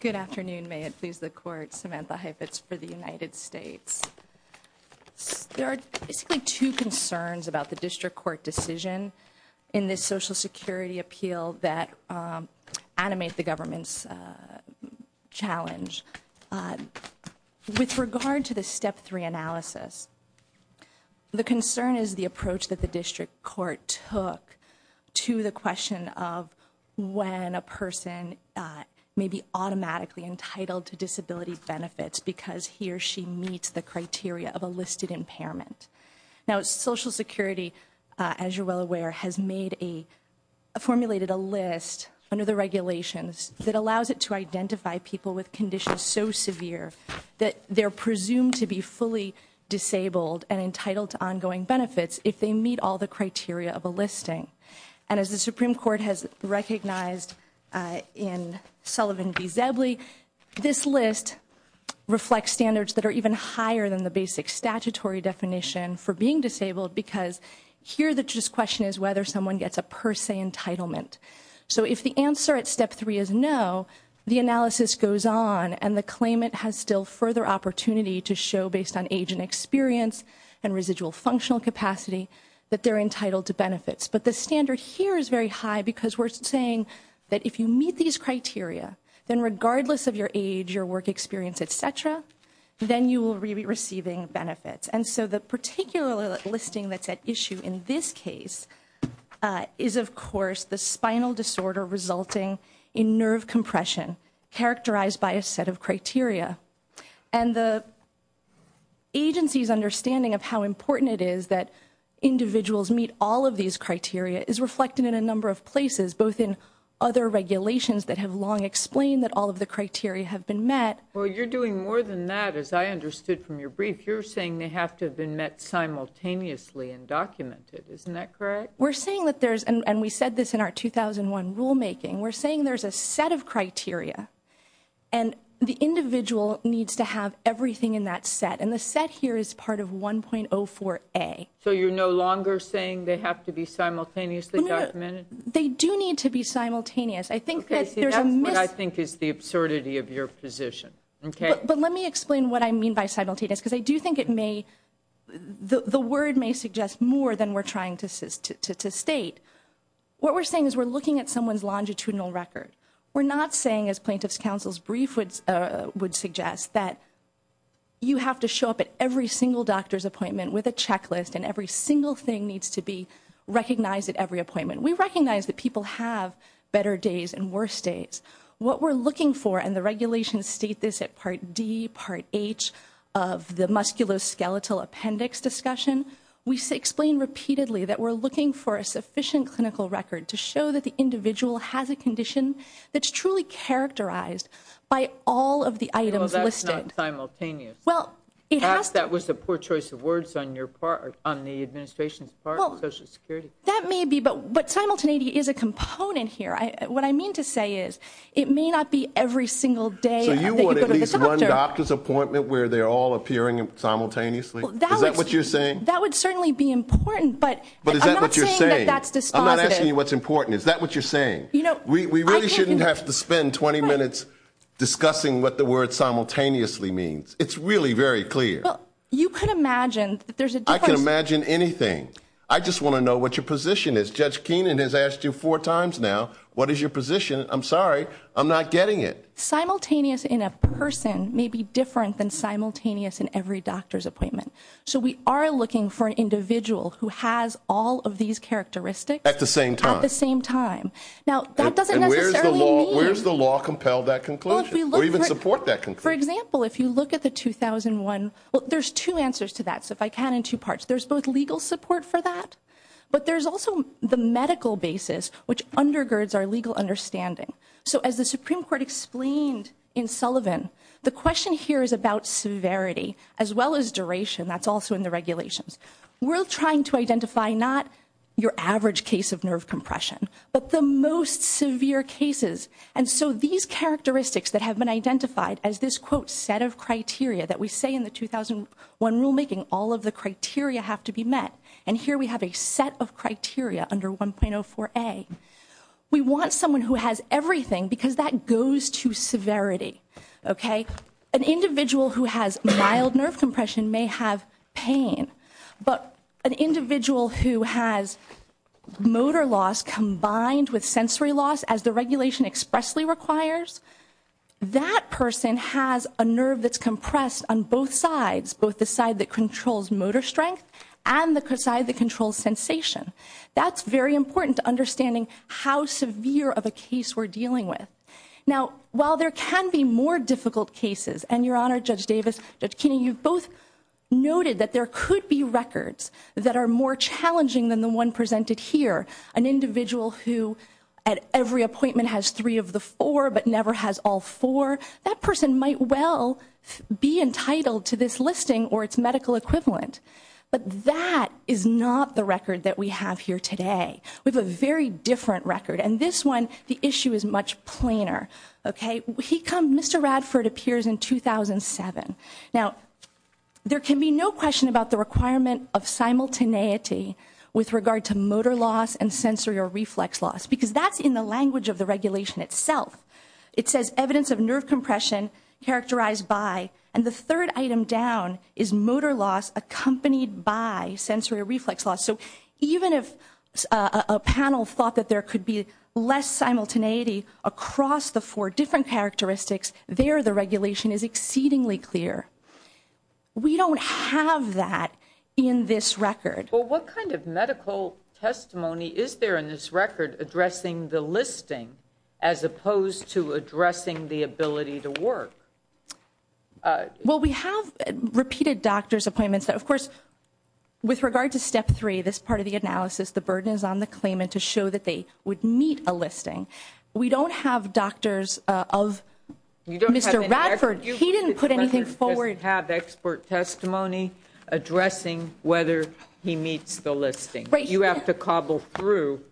Good afternoon. May it please the Court, Samantha Heifetz for the United States. There are basically two concerns about the District Court decision in this Social Security appeal that animate the government's challenge. With regard to the Step 3 analysis, the concern is the approach that the District Court took to the question of when a person may be automatically entitled to disability benefits because he or she meets the criteria of a listed impairment. Now Social Security has formulated a list under the regulations that allows it to identify people with conditions so severe that they're presumed to be fully disabled and entitled to ongoing benefits if they meet all the criteria of a listing. And as the Supreme Court has recognized in Sullivan v. Zebley, this list reflects standards that are even higher than the basic statutory definition for being disabled because here the question is whether someone gets a per se entitlement. So if the answer at Step 3 is no, the analysis goes on and the claimant has still further opportunity to show based on age and experience and residual functional capacity that they're entitled to benefits. But the standard here is very high because we're saying that if you meet these criteria, then regardless of your age, your work experience, et cetera, then you will be receiving benefits. And so the particular listing that's at issue in this case is of course the spinal disorder resulting in nerve compression characterized by a set of criteria. And the agency's understanding of how important it is that individuals meet all of these criteria is reflected in a number of places, both in other regulations that have long explained that all of the criteria have been met. Well, you're doing more than that, as I understood from your brief. You're saying they have to have been met simultaneously and documented. Isn't that correct? We're saying that there's and we said this in our 2001 rulemaking. We're saying there's a set of criteria and the individual needs to have everything in that set. And the set here is part of 1.04a. So you're no longer saying they have to be simultaneously documented? They do need to be simultaneous. I think that's what I think is the absurdity of your position. OK, but let me explain what I mean by simultaneous, because I do think it may the word may suggest more than we're trying to state. What we're saying is we're looking at someone's longitudinal record. We're not saying, as plaintiff's counsel's brief would suggest, that you have to show up at every single doctor's appointment with a checklist and every single thing needs to be recognized at every appointment. We recognize that people have better days and worse days. What we're looking for, and the regulations state this at Part D, Part H of the musculoskeletal appendix discussion. We explain repeatedly that we're looking for a sufficient clinical record to show that the individual has a condition that's truly characterized by all of the items listed. Well, that's not simultaneous. Well, it has to. That was a poor choice of words on your part, on the administration's part of Social Security. That may be, but simultaneity is a component here. What I mean to say is, it may not be every single day that you go to the doctor. So you want at least one doctor's appointment where they're all appearing simultaneously? Is that what you're saying? That would certainly be important, but I'm not saying that that's dispositive. But is that what you're saying? I'm not asking you what's important. Is that what you're saying? You know, I can't- We really shouldn't have to spend 20 minutes discussing what the word simultaneously means. It's really very clear. Well, you could imagine that there's a difference. I can imagine anything. I just want to know what your position is. Judge Keenan has asked you four times now, what is your position? I'm sorry, I'm not getting it. Simultaneous in a person may be different than simultaneous in every doctor's appointment. So we are looking for an individual who has all of these characteristics- At the same time. At the same time. Now, that doesn't necessarily mean- Where's the law compel that conclusion? Or even support that conclusion? For example, if you look at the 2001, well, there's two answers to that, so if I count in two parts. There's both legal support for that, but there's also the medical basis, which undergirds our legal understanding. So as the Supreme Court explained in Sullivan, the question here is about severity as well as duration. That's also in the regulations. We're trying to identify not your average case of nerve compression, but the most severe cases. And so these characteristics that have been identified as this, quote, set of criteria that we say in the 2001 rulemaking, all of the criteria have to be met. And here we have a set of criteria under 1.04A. We want someone who has everything, because that goes to severity, okay? An individual who has mild nerve compression may have pain, but an individual who has motor loss combined with sensory loss, as the regulation expressly requires, that person has a nerve that's compressed on both sides. Both the side that controls motor strength and the side that controls sensation. That's very important to understanding how severe of a case we're dealing with. Now, while there can be more difficult cases, and Your Honor, Judge Davis, Judge Keeney, you've both noted that there could be records that are more challenging than the one presented here. An individual who at every appointment has three of the four, but never has all four, that person might well be entitled to this listing or its medical equivalent. But that is not the record that we have here today. We have a very different record. And this one, the issue is much plainer, okay? He come, Mr. Radford appears in 2007. Now, there can be no question about the requirement of simultaneity with regard to motor loss and sensory or reflex loss, because that's in the language of the regulation itself. It says evidence of nerve compression characterized by, and the third item down is motor loss accompanied by sensory or reflex loss. So even if a panel thought that there could be less simultaneity across the four different characteristics, there the regulation is exceedingly clear. We don't have that in this record. Well, what kind of medical testimony is there in this record addressing the listing, as opposed to addressing the ability to work? Well, we have repeated doctor's appointments that, of course, with regard to step three, this part of the analysis, the burden is on the claimant to show that they would meet a listing. We don't have doctors of Mr. Radford, he didn't put anything forward. We have expert testimony addressing whether he meets the listing. You have to cobble through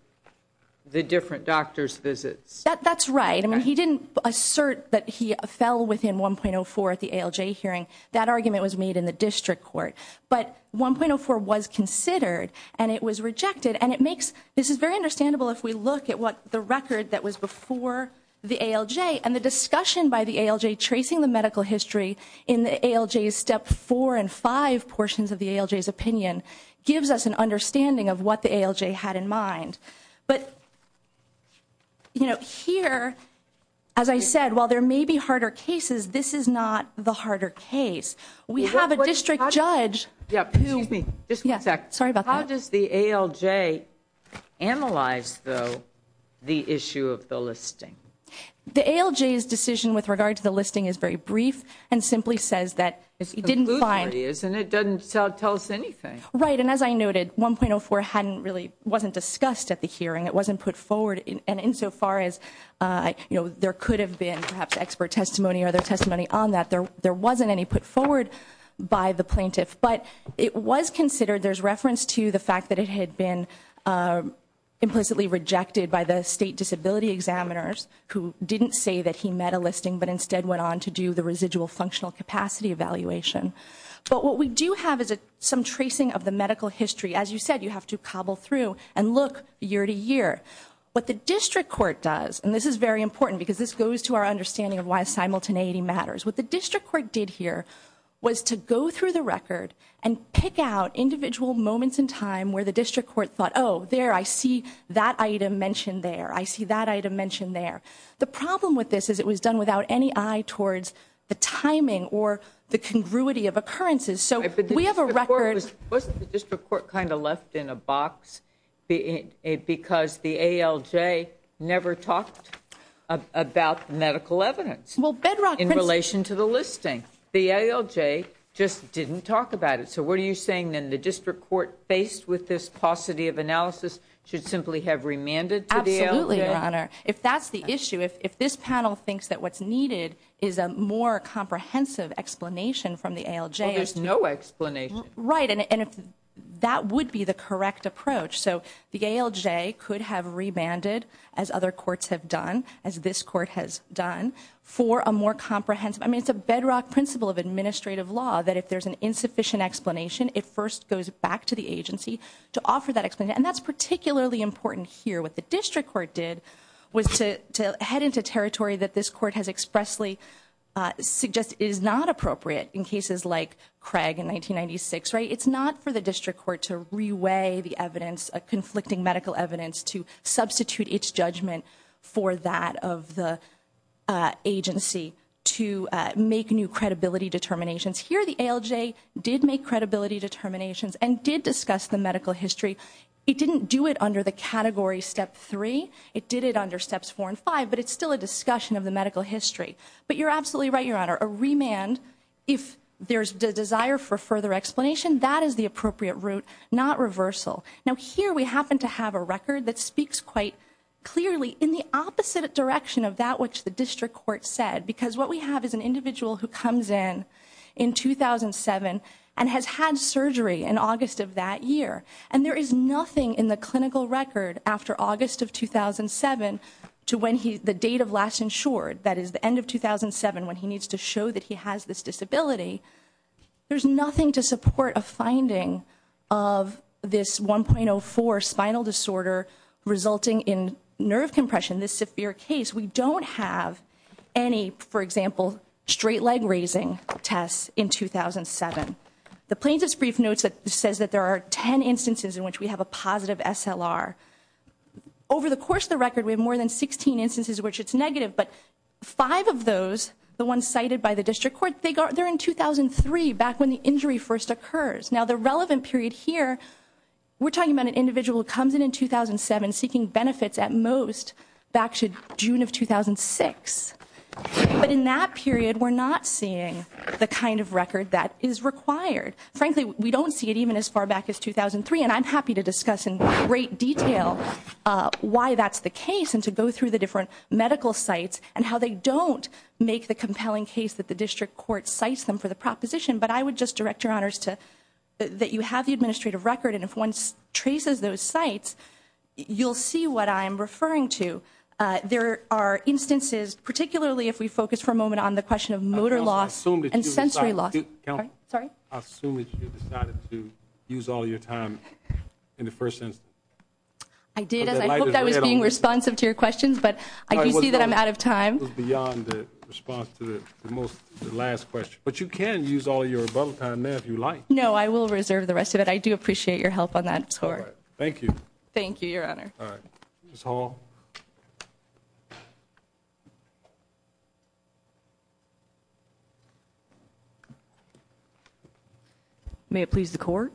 the different doctor's visits. That's right, I mean, he didn't assert that he fell within 1.04 at the ALJ hearing. That argument was made in the district court. But 1.04 was considered and it was rejected and it makes, this is very understandable if we look at what the record that was before the ALJ and the discussion by the ALJ tracing the medical history in the ALJ's step four and five portions of the ALJ's opinion gives us an understanding of what the ALJ had in mind. But here, as I said, while there may be harder cases, this is not the harder case. We have a district judge. Yeah, excuse me, just one sec. Sorry about that. How does the ALJ analyze, though, the issue of the listing? The ALJ's decision with regard to the listing is very brief and simply says that it didn't find- It's conclusive, isn't it? It doesn't tell us anything. Right, and as I noted, 1.04 really wasn't discussed at the hearing. It wasn't put forward, and insofar as there could have been perhaps expert testimony or other testimony on that, there wasn't any put forward by the plaintiff. But it was considered, there's reference to the fact that it had been implicitly rejected by the state disability examiners who didn't say that he met a listing, but instead went on to do the residual functional capacity evaluation. But what we do have is some tracing of the medical history. As you said, you have to cobble through and look year to year. What the district court does, and this is very important because this goes to our understanding of why simultaneity matters. What the district court did here was to go through the record and the district court thought, there, I see that item mentioned there. I see that item mentioned there. The problem with this is it was done without any eye towards the timing or the congruity of occurrences. So we have a record- Wasn't the district court kind of left in a box because the ALJ never talked about medical evidence? Well, Bedrock- In relation to the listing. The ALJ just didn't talk about it. So what are you saying, then, the district court, faced with this paucity of analysis, should simply have remanded to the ALJ? Absolutely, Your Honor. If that's the issue, if this panel thinks that what's needed is a more comprehensive explanation from the ALJ- Well, there's no explanation. Right, and that would be the correct approach. So the ALJ could have remanded, as other courts have done, as this court has done, for a more comprehensive. I mean, it's a bedrock principle of administrative law that if there's an insufficient explanation, it first goes back to the agency to offer that explanation. And that's particularly important here. What the district court did was to head into territory that this court has expressly suggested is not appropriate in cases like Craig in 1996, right? It's not for the district court to re-weigh the evidence, conflicting medical evidence, to substitute its judgment for that of the agency to make new credibility determinations. Here, the ALJ did make credibility determinations and did discuss the medical history. It didn't do it under the category step three. It did it under steps four and five, but it's still a discussion of the medical history. But you're absolutely right, Your Honor. A remand, if there's the desire for further explanation, that is the appropriate route, not reversal. Now here, we happen to have a record that speaks quite clearly in the opposite direction of that which the district court said. Because what we have is an individual who comes in in 2007 and has had surgery in August of that year. And there is nothing in the clinical record after August of 2007 to when the date of last insured, that is the end of 2007 when he needs to show that he has this disability. There's nothing to support a finding of this 1.04 spinal disorder resulting in nerve compression, this severe case. We don't have any, for example, straight leg raising tests in 2007. The plaintiff's brief notes that says that there are ten instances in which we have a positive SLR. Over the course of the record, we have more than 16 instances in which it's negative. But five of those, the ones cited by the district court, they're in 2003, back when the injury first occurs. Now the relevant period here, we're talking about an individual who comes in in 2007, seeking benefits at most back to June of 2006. But in that period, we're not seeing the kind of record that is required. Frankly, we don't see it even as far back as 2003, and I'm happy to discuss in great detail why that's the case and to go through the different medical sites and how they don't make the compelling case that the district court cites them for the proposition. But I would just direct your honors to, that you have the administrative record and if one traces those sites, you'll see what I'm referring to. There are instances, particularly if we focus for a moment on the question of motor loss and sensory loss. Sorry? I assume that you decided to use all your time in the first instance. I did, as I hoped I was being responsive to your questions, but I can see that I'm out of time. It was beyond the response to the last question. But you can use all your time there if you'd like. No, I will reserve the rest of it. I do appreciate your help on that score. Thank you. Thank you, your honor. All right, Ms. Hall. May it please the court?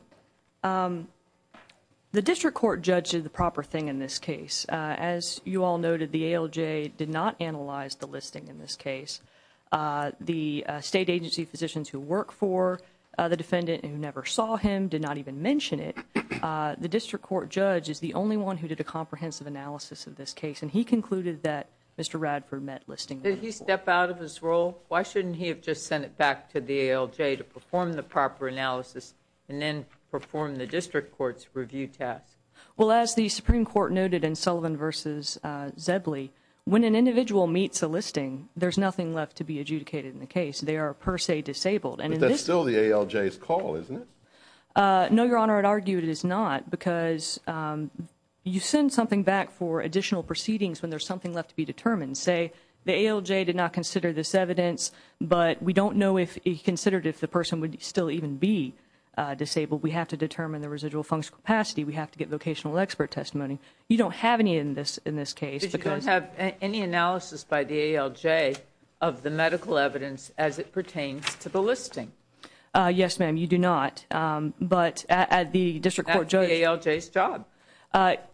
The district court judge did the proper thing in this case. As you all noted, the ALJ did not analyze the listing in this case. The state agency physicians who work for the defendant who never saw him did not even mention it. The district court judge is the only one who did a comprehensive analysis of this case, and he concluded that Mr. Radford met listing. Did he step out of his role? Why shouldn't he have just sent it back to the ALJ to perform the proper analysis and then perform the district court's review task? Well, as the Supreme Court noted in Sullivan v. Zebley, when an individual meets a listing, there's nothing left to be adjudicated in the case. They are per se disabled. But that's still the ALJ's call, isn't it? No, your honor, I'd argue it is not, because you send something back for additional proceedings when there's something left to be determined. Say the ALJ did not consider this evidence, but we don't know if he considered if the person would still even be disabled. We have to determine the residual functional capacity. We have to get vocational expert testimony. You don't have any in this case, because- But you don't have any analysis by the ALJ of the medical evidence as it pertains to the listing. Yes, ma'am, you do not. But the district court judge- That's the ALJ's job.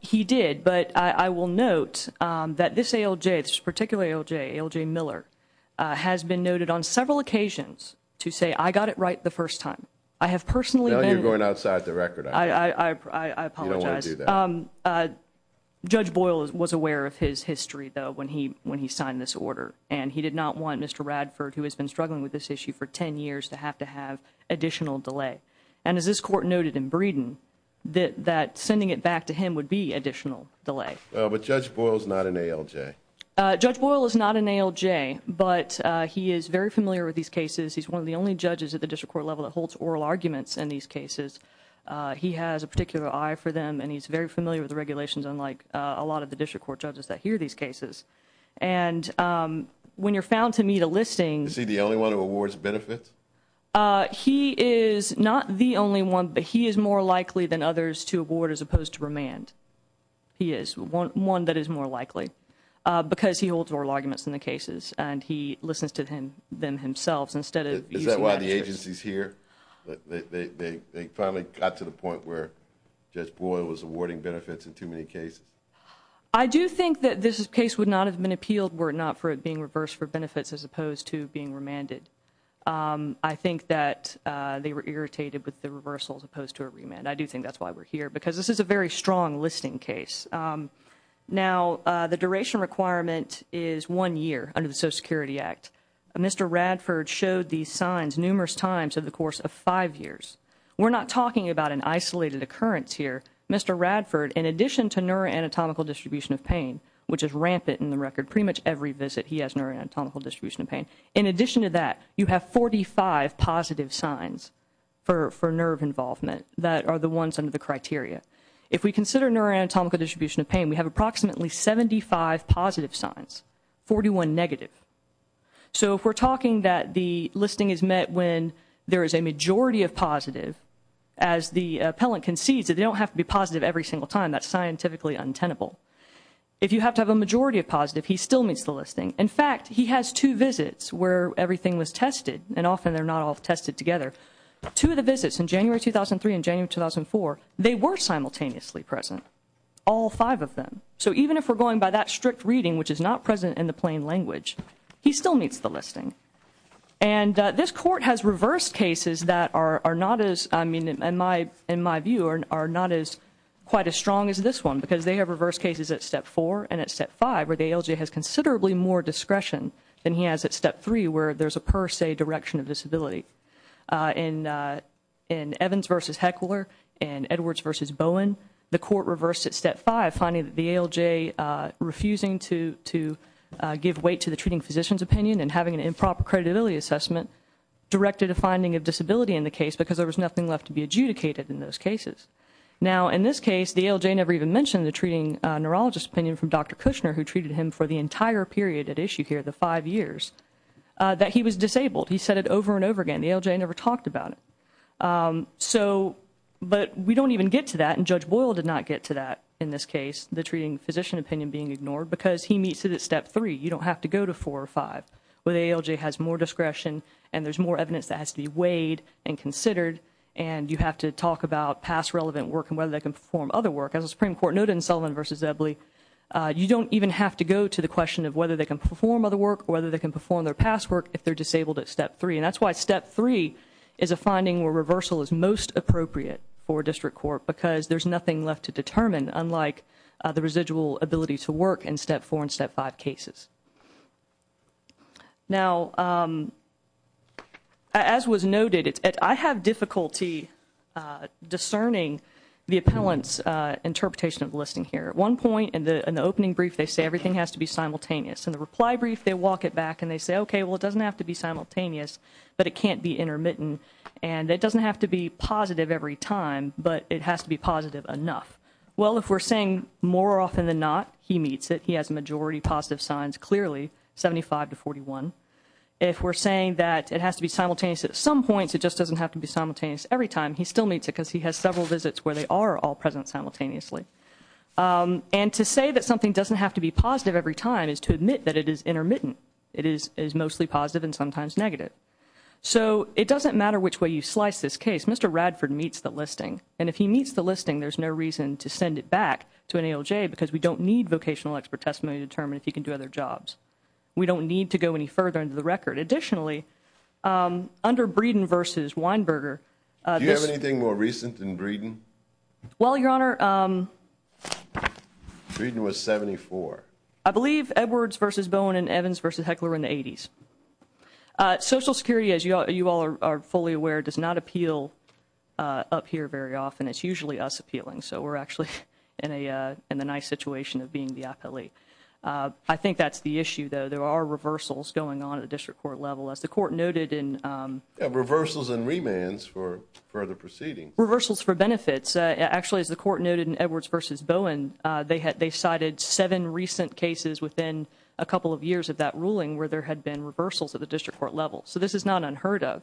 He did, but I will note that this ALJ, this particular ALJ, ALJ Miller, has been noted on several occasions to say, I got it right the first time. I have personally- No, you're going outside the record, I think. I apologize. You don't want to do that. Judge Boyle was aware of his history, though, when he signed this order. And he did not want Mr. Radford, who has been struggling with this issue for ten years, to have to have additional delay. And as this court noted in Breeden, that sending it back to him would be additional delay. But Judge Boyle's not an ALJ. Judge Boyle is not an ALJ, but he is very familiar with these cases. He's one of the only judges at the district court level that holds oral arguments in these cases. He has a particular eye for them, and he's very familiar with the regulations, unlike a lot of the district court judges that hear these cases. And when you're found to meet a listing- Is he the only one who awards benefits? He is not the only one, but he is more likely than others to award as opposed to remand. He is one that is more likely. Because he holds oral arguments in the cases, and he listens to them himself instead of- Is that why the agency's here? They finally got to the point where Judge Boyle was awarding benefits in too many cases? I do think that this case would not have been appealed were it not for it being reversed for benefits as opposed to being remanded. I think that they were irritated with the reversal as opposed to a remand. I do think that's why we're here, because this is a very strong listing case. Now, the duration requirement is one year under the Social Security Act. Mr. Radford showed these signs numerous times over the course of five years. We're not talking about an isolated occurrence here. Mr. Radford, in addition to neuroanatomical distribution of pain, which is rampant in the record, pretty much every visit he has neuroanatomical distribution of pain, in addition to that, you have 45 positive signs for nerve involvement that are the ones under the criteria. If we consider neuroanatomical distribution of pain, we have approximately 75 positive signs, 41 negative. So if we're talking that the listing is met when there is a majority of positive, as the appellant concedes that they don't have to be positive every single time, that's scientifically untenable. If you have to have a majority of positive, he still meets the listing. In fact, he has two visits where everything was tested, and often they're not all tested together. Two of the visits in January 2003 and January 2004, they were simultaneously present, all five of them. So even if we're going by that strict reading, which is not present in the plain language, he still meets the listing. And this Court has reversed cases that are not as, I mean, in my view, are not quite as strong as this one, because they have reversed cases at step four and at step five, where the ALJ has considerably more discretion than he has at step three, where there's a per se direction of disability. In Evans v. Heckler and Edwards v. Bowen, the Court reversed at step five, finding that the ALJ refusing to give weight to the treating physician's opinion and having an improper credibility assessment, directed a finding of disability in the case because there was nothing left to be adjudicated in those cases. Now, in this case, the ALJ never even mentioned the treating neurologist's opinion from Dr. Kushner, who treated him for the entire period at issue here, the five years, that he was disabled. He said it over and over again. The ALJ never talked about it. So, but we don't even get to that, and Judge Boyle did not get to that in this case, the treating physician opinion being ignored, because he meets it at step three. You don't have to go to four or five, where the ALJ has more discretion, and there's more evidence that has to be weighed and considered, and you have to talk about past relevant work and whether they can perform other work. As the Supreme Court noted in Sullivan v. Ebley, you don't even have to go to the question of whether they can perform other work or whether they can perform their past work if they're disabled at step three. And that's why step three is a finding where reversal is most appropriate for district court, because there's nothing left to determine, unlike the residual ability to work in step four and step five cases. Now, as was noted, I have difficulty discerning the appellant's interpretation of the listing here. At one point in the opening brief, they say everything has to be simultaneous. In the reply brief, they walk it back, and they say, okay, well, it doesn't have to be simultaneous, but it can't be intermittent, and it doesn't have to be positive every time, but it has to be positive enough. Well, if we're saying more often than not, he meets it. He has a majority positive signs, clearly, 75 to 41. If we're saying that it has to be simultaneous at some points, it just doesn't have to be simultaneous every time, he still meets it because he has several visits where they are all present simultaneously. And to say that something doesn't have to be positive every time is to admit that it is intermittent. It is mostly positive and sometimes negative. So it doesn't matter which way you slice this case. Mr. Radford meets the listing, and if he meets the listing, there's no reason to send it back to an ALJ because we don't need vocational expert testimony to determine if he can do other jobs. We don't need to go any further into the record. Additionally, under Breeden v. Weinberger, this- Do you have anything more recent than Breeden? Well, Your Honor- Breeden was 74. I believe Edwards v. Bowen and Evans v. Heckler were in the 80s. Social Security, as you all are fully aware, does not appeal up here very often. It's usually us appealing, so we're actually in a nice situation of being the appellee. I think that's the issue, though. There are reversals going on at the district court level. As the court noted in- Yeah, reversals and remands for further proceedings. Reversals for benefits. Actually, as the court noted in Edwards v. Bowen, they cited seven recent cases within a couple of years of that ruling where there had been reversals at the district court level. So this is not unheard of.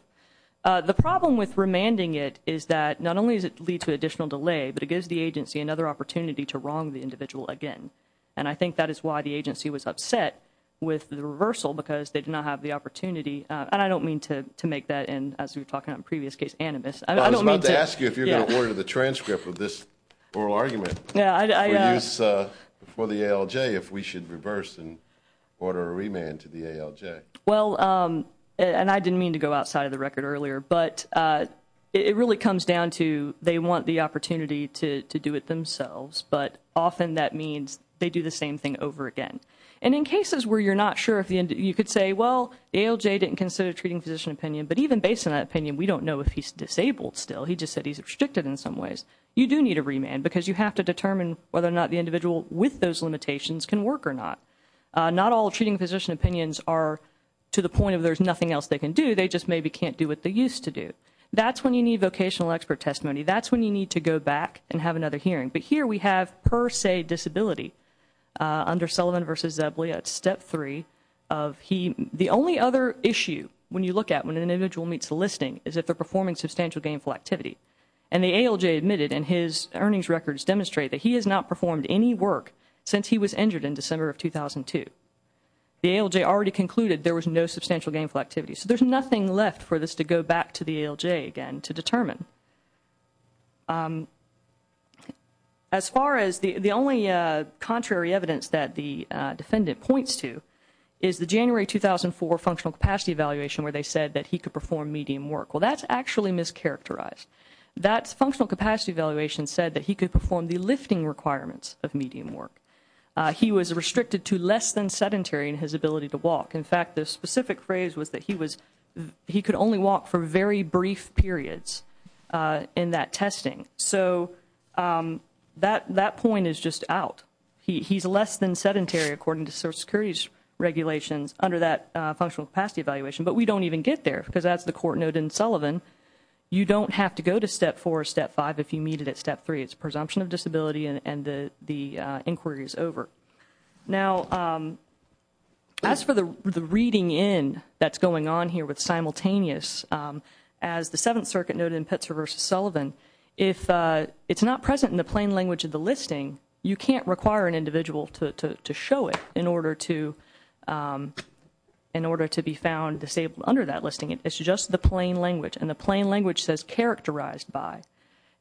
The problem with remanding it is that not only does it lead to additional delay, but it gives the agency another opportunity to wrong the individual again. And I think that is why the agency was upset with the reversal because they did not have the opportunity- And I don't mean to make that, as we were talking about in a previous case, animus. I don't mean to- I was about to ask you if you were going to order the transcript of this oral argument. For the ALJ, if we should reverse and order a remand to the ALJ. Well, and I didn't mean to go outside of the record earlier, but it really comes down to they want the opportunity to do it themselves, but often that means they do the same thing over again. And in cases where you're not sure, you could say, well, the ALJ didn't consider treating physician opinion, but even based on that opinion, we don't know if he's disabled still. He just said he's restricted in some ways. You do need a remand because you have to determine whether or not the individual with those limitations can work or not. Not all treating physician opinions are to the point of there's nothing else they can do. They just maybe can't do what they used to do. That's when you need vocational expert testimony. That's when you need to go back and have another hearing. But here we have per se disability under Sullivan v. Zebley at Step 3 of he- The only other issue when you look at when an individual meets the listing is if they're performing substantial gainful activity. And the ALJ admitted in his earnings records demonstrate that he has not performed any work since he was injured in December of 2002. The ALJ already concluded there was no substantial gainful activity. So there's nothing left for this to go back to the ALJ again to determine. As far as the only contrary evidence that the defendant points to is the January 2004 functional capacity evaluation where they said that he could perform medium work. Well, that's actually mischaracterized. That functional capacity evaluation said that he could perform the lifting requirements of medium work. He was restricted to less than sedentary in his ability to walk. In fact, the specific phrase was that he was- he could only walk for very brief periods in that testing. So that point is just out. He's less than sedentary according to Social Security's regulations under that functional capacity evaluation. But we don't even get there because that's the court note in Sullivan. You don't have to go to Step 4 or Step 5 if you meet it at Step 3. It's presumption of disability and the inquiry is over. Now, as for the reading in that's going on here with simultaneous, as the Seventh Circuit noted in Pitzer v. Sullivan, if it's not present in the plain language of the listing, you can't require an individual to show it in order to be found disabled under that listing. It's just the plain language, and the plain language says characterized by.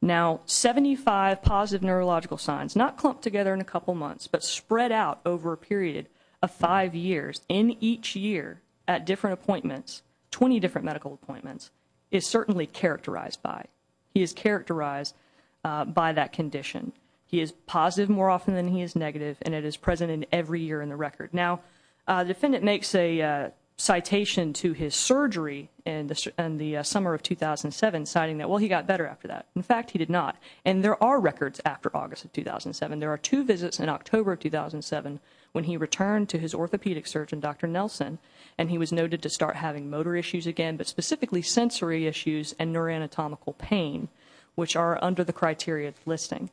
Now, 75 positive neurological signs, not clumped together in a couple months, but spread out over a period of five years in each year at different appointments, 20 different medical appointments, is certainly characterized by. He is characterized by that condition. He is positive more often than he is negative, and it is present in every year in the record. Now, the defendant makes a citation to his surgery in the summer of 2007, citing that, well, he got better after that. In fact, he did not. And there are records after August of 2007. There are two visits in October of 2007 when he returned to his orthopedic surgeon, Dr. Nelson, and he was noted to start having motor issues again, but specifically sensory issues and neuroanatomical pain, which are under the criteria of listing.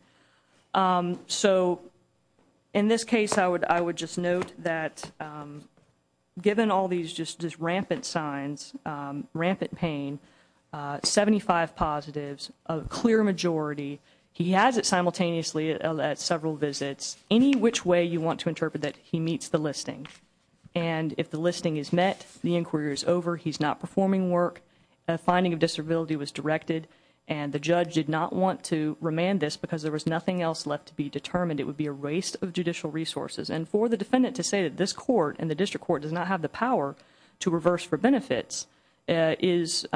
So in this case, I would just note that given all these just rampant signs, rampant pain, 75 positives, a clear majority, he has it simultaneously at several visits, any which way you want to interpret that, he meets the listing. And if the listing is met, the inquiry is over, he's not performing work, a finding of disability was directed, and the judge did not want to remand this because there was nothing else left to be determined. It would be a waste of judicial resources. And for the defendant to say that this court and the district court does not have the power to reverse for benefits is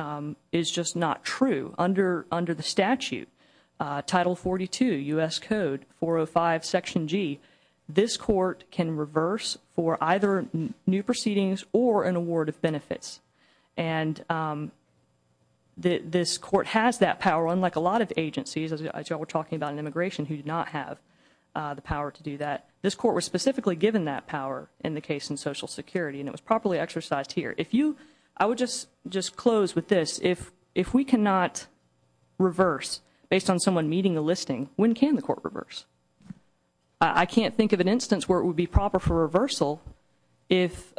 just not true. Under the statute, Title 42 U.S. Code 405 Section G, this court can reverse for either new proceedings or an award of benefits. And this court has that power, unlike a lot of agencies, as you all were talking about in immigration, who do not have the power to do that. This court was specifically given that power in the case in Social Security, and it was properly exercised here. I would just close with this. If we cannot reverse based on someone meeting a listing, when can the court reverse? I can't think of an instance where it would be proper for reversal if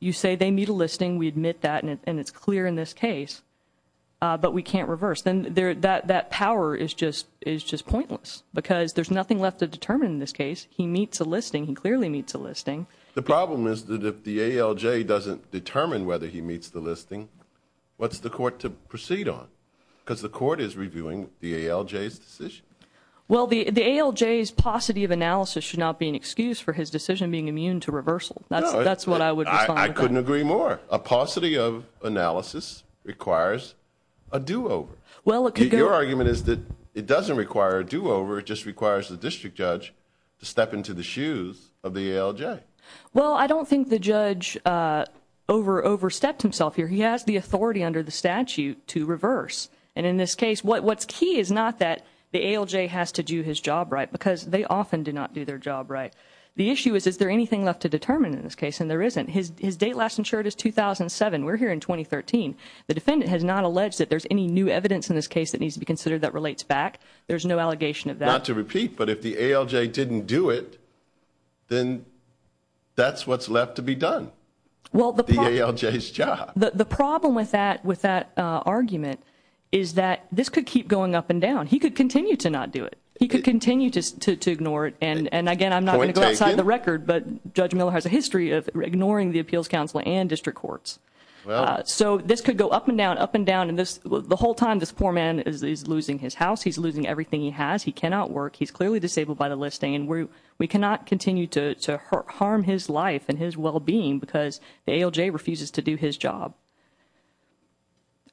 you say they meet a listing, we admit that, and it's clear in this case, but we can't reverse. Then that power is just pointless because there's nothing left to determine in this case. He meets a listing. He clearly meets a listing. The problem is that if the ALJ doesn't determine whether he meets the listing, what's the court to proceed on? Because the court is reviewing the ALJ's decision. Well, the ALJ's paucity of analysis should not be an excuse for his decision being immune to reversal. That's what I would respond to. I couldn't agree more. A paucity of analysis requires a do-over. Your argument is that it doesn't require a do-over. It just requires the district judge to step into the shoes of the ALJ. Well, I don't think the judge overstepped himself here. He has the authority under the statute to reverse. And in this case, what's key is not that the ALJ has to do his job right because they often do not do their job right. The issue is, is there anything left to determine in this case? And there isn't. His date last insured is 2007. We're here in 2013. The defendant has not alleged that there's any new evidence in this case that needs to be considered that relates back. There's no allegation of that. Not to repeat, but if the ALJ didn't do it, then that's what's left to be done, the ALJ's job. The problem with that argument is that this could keep going up and down. He could continue to not do it. He could continue to ignore it. And again, I'm not going to go outside the record, but Judge Miller has a history of ignoring the appeals counsel and district courts. So this could go up and down, up and down. And the whole time, this poor man is losing his house. He's losing everything he has. He cannot work. He's clearly disabled by the listing. And we cannot continue to harm his life and his well-being because the ALJ refuses to do his job.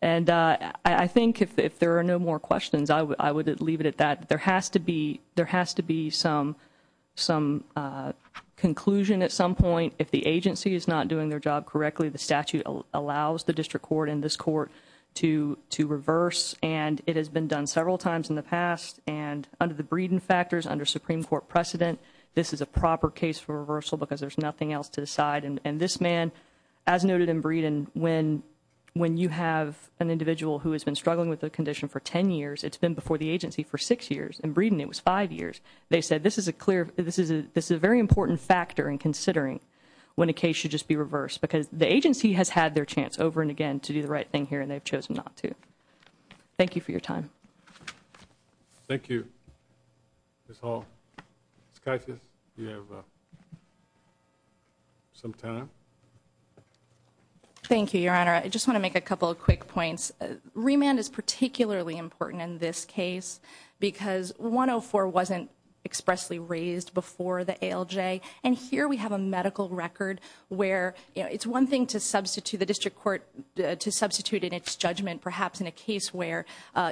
And I think if there are no more questions, I would leave it at that. There has to be some conclusion at some point. If the agency is not doing their job correctly, the statute allows the district court and this court to reverse. And it has been done several times in the past. And under the Breeden factors, under Supreme Court precedent, this is a proper case for reversal because there's nothing else to decide. And this man, as noted in Breeden, when you have an individual who has been struggling with a condition for 10 years, it's been before the agency for 6 years. In Breeden, it was 5 years. They said this is a very important factor in considering when a case should just be reversed because the agency has had their chance over and again to do the right thing here, and they've chosen not to. Thank you for your time. Thank you, Ms. Hall. Ms. Caisas, do you have some time? Thank you, Your Honor. I just want to make a couple of quick points. Remand is particularly important in this case because 104 wasn't expressly raised before the ALJ. And here we have a medical record where it's one thing to substitute the district court, to substitute in its judgment perhaps in a case where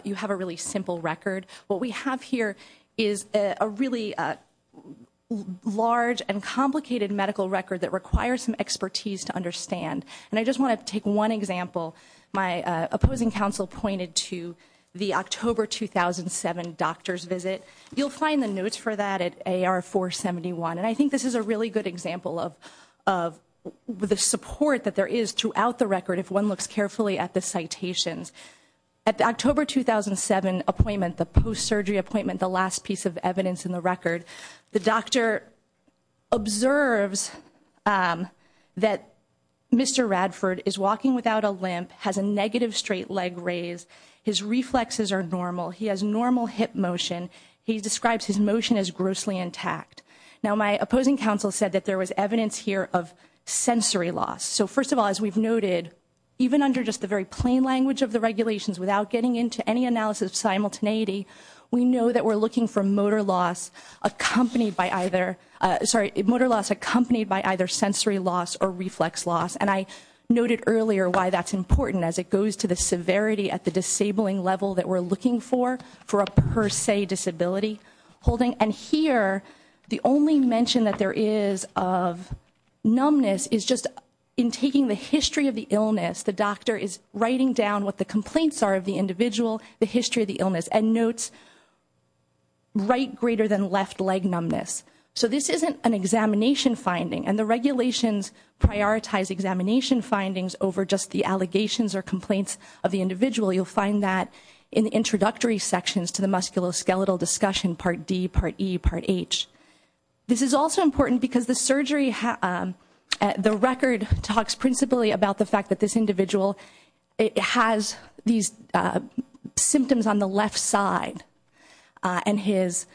you have a really simple record. What we have here is a really large and complicated medical record that requires some expertise to understand. And I just want to take one example. My opposing counsel pointed to the October 2007 doctor's visit. You'll find the notes for that at AR 471. And I think this is a really good example of the support that there is throughout the record if one looks carefully at the citations. At the October 2007 appointment, the post-surgery appointment, the last piece of evidence in the record, the doctor observes that Mr. Radford is walking without a limp, has a negative straight leg raise. His reflexes are normal. He has normal hip motion. He describes his motion as grossly intact. Now, my opposing counsel said that there was evidence here of sensory loss. So first of all, as we've noted, even under just the very plain language of the regulations without getting into any analysis of simultaneity, we know that we're looking for motor loss accompanied by either sensory loss or reflex loss. And I noted earlier why that's important as it goes to the severity at the disabling level that we're looking for, for a per se disability holding. And here, the only mention that there is of numbness is just in taking the history of the illness, the doctor is writing down what the complaints are of the individual, the history of the illness, and notes right greater than left leg numbness. So this isn't an examination finding. And the regulations prioritize examination findings over just the allegations or complaints of the individual. You'll find that in the introductory sections to the musculoskeletal discussion, part D, part E, part H. This is also important because the record talks principally about the fact that this individual has these symptoms on the left side, and his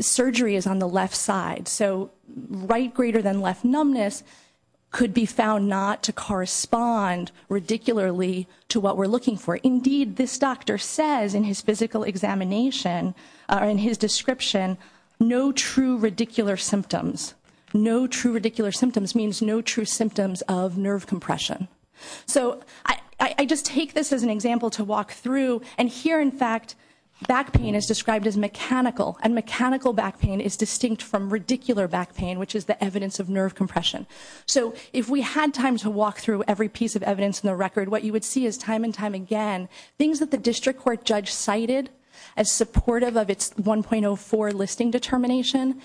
surgery is on the left side. So right greater than left numbness could be found not to correspond ridiculously to what we're looking for. Indeed, this doctor says in his physical examination, in his description, no true radicular symptoms. No true radicular symptoms means no true symptoms of nerve compression. So I just take this as an example to walk through. And here, in fact, back pain is described as mechanical. And mechanical back pain is distinct from radicular back pain, which is the evidence of nerve compression. So if we had time to walk through every piece of evidence in the record, what you would see is time and time again, things that the district court judge cited as supportive of its 1.04 listing determination,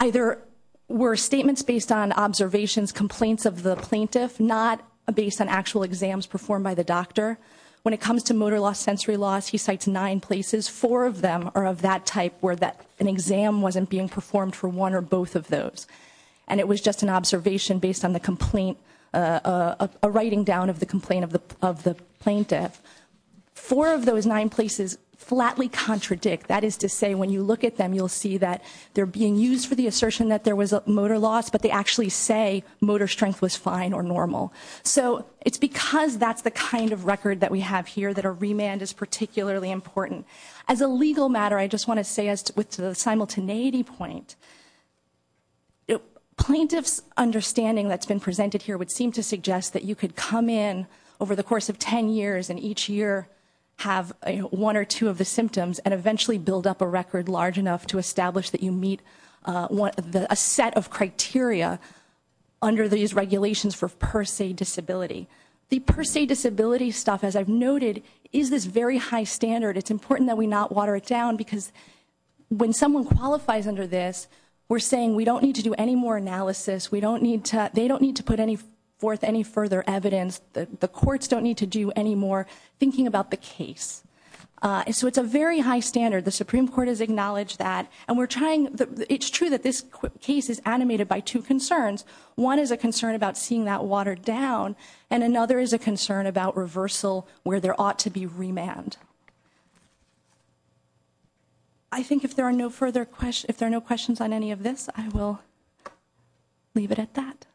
either were statements based on observations, complaints of the plaintiff, not based on actual exams performed by the doctor. When it comes to motor loss, sensory loss, he cites nine places. Four of them are of that type where an exam wasn't being performed for one or both of those. And it was just an observation based on the complaint, a writing down of the complaint of the plaintiff. Four of those nine places flatly contradict. That is to say, when you look at them, you'll see that they're being used for the assertion that there was motor loss, but they actually say motor strength was fine or normal. So it's because that's the kind of record that we have here that a remand is particularly important. As a legal matter, I just want to say with the simultaneity point, plaintiff's understanding that's been presented here would seem to suggest that you could come in over the course of ten years and each year have one or two of the symptoms and eventually build up a record large enough to establish that you meet a set of criteria under these regulations for per se disability. The per se disability stuff, as I've noted, is this very high standard. It's important that we not water it down because when someone qualifies under this, we're saying we don't need to do any more analysis. They don't need to put forth any further evidence. The courts don't need to do any more thinking about the case. So it's a very high standard. The Supreme Court has acknowledged that. It's true that this case is animated by two concerns. One is a concern about seeing that watered down, and another is a concern about reversal where there ought to be remand. I think if there are no questions on any of this, I will leave it at that.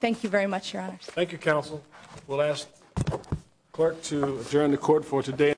Thank you very much, Your Honors. Thank you, Counsel. We'll ask the clerk to adjourn the court for today.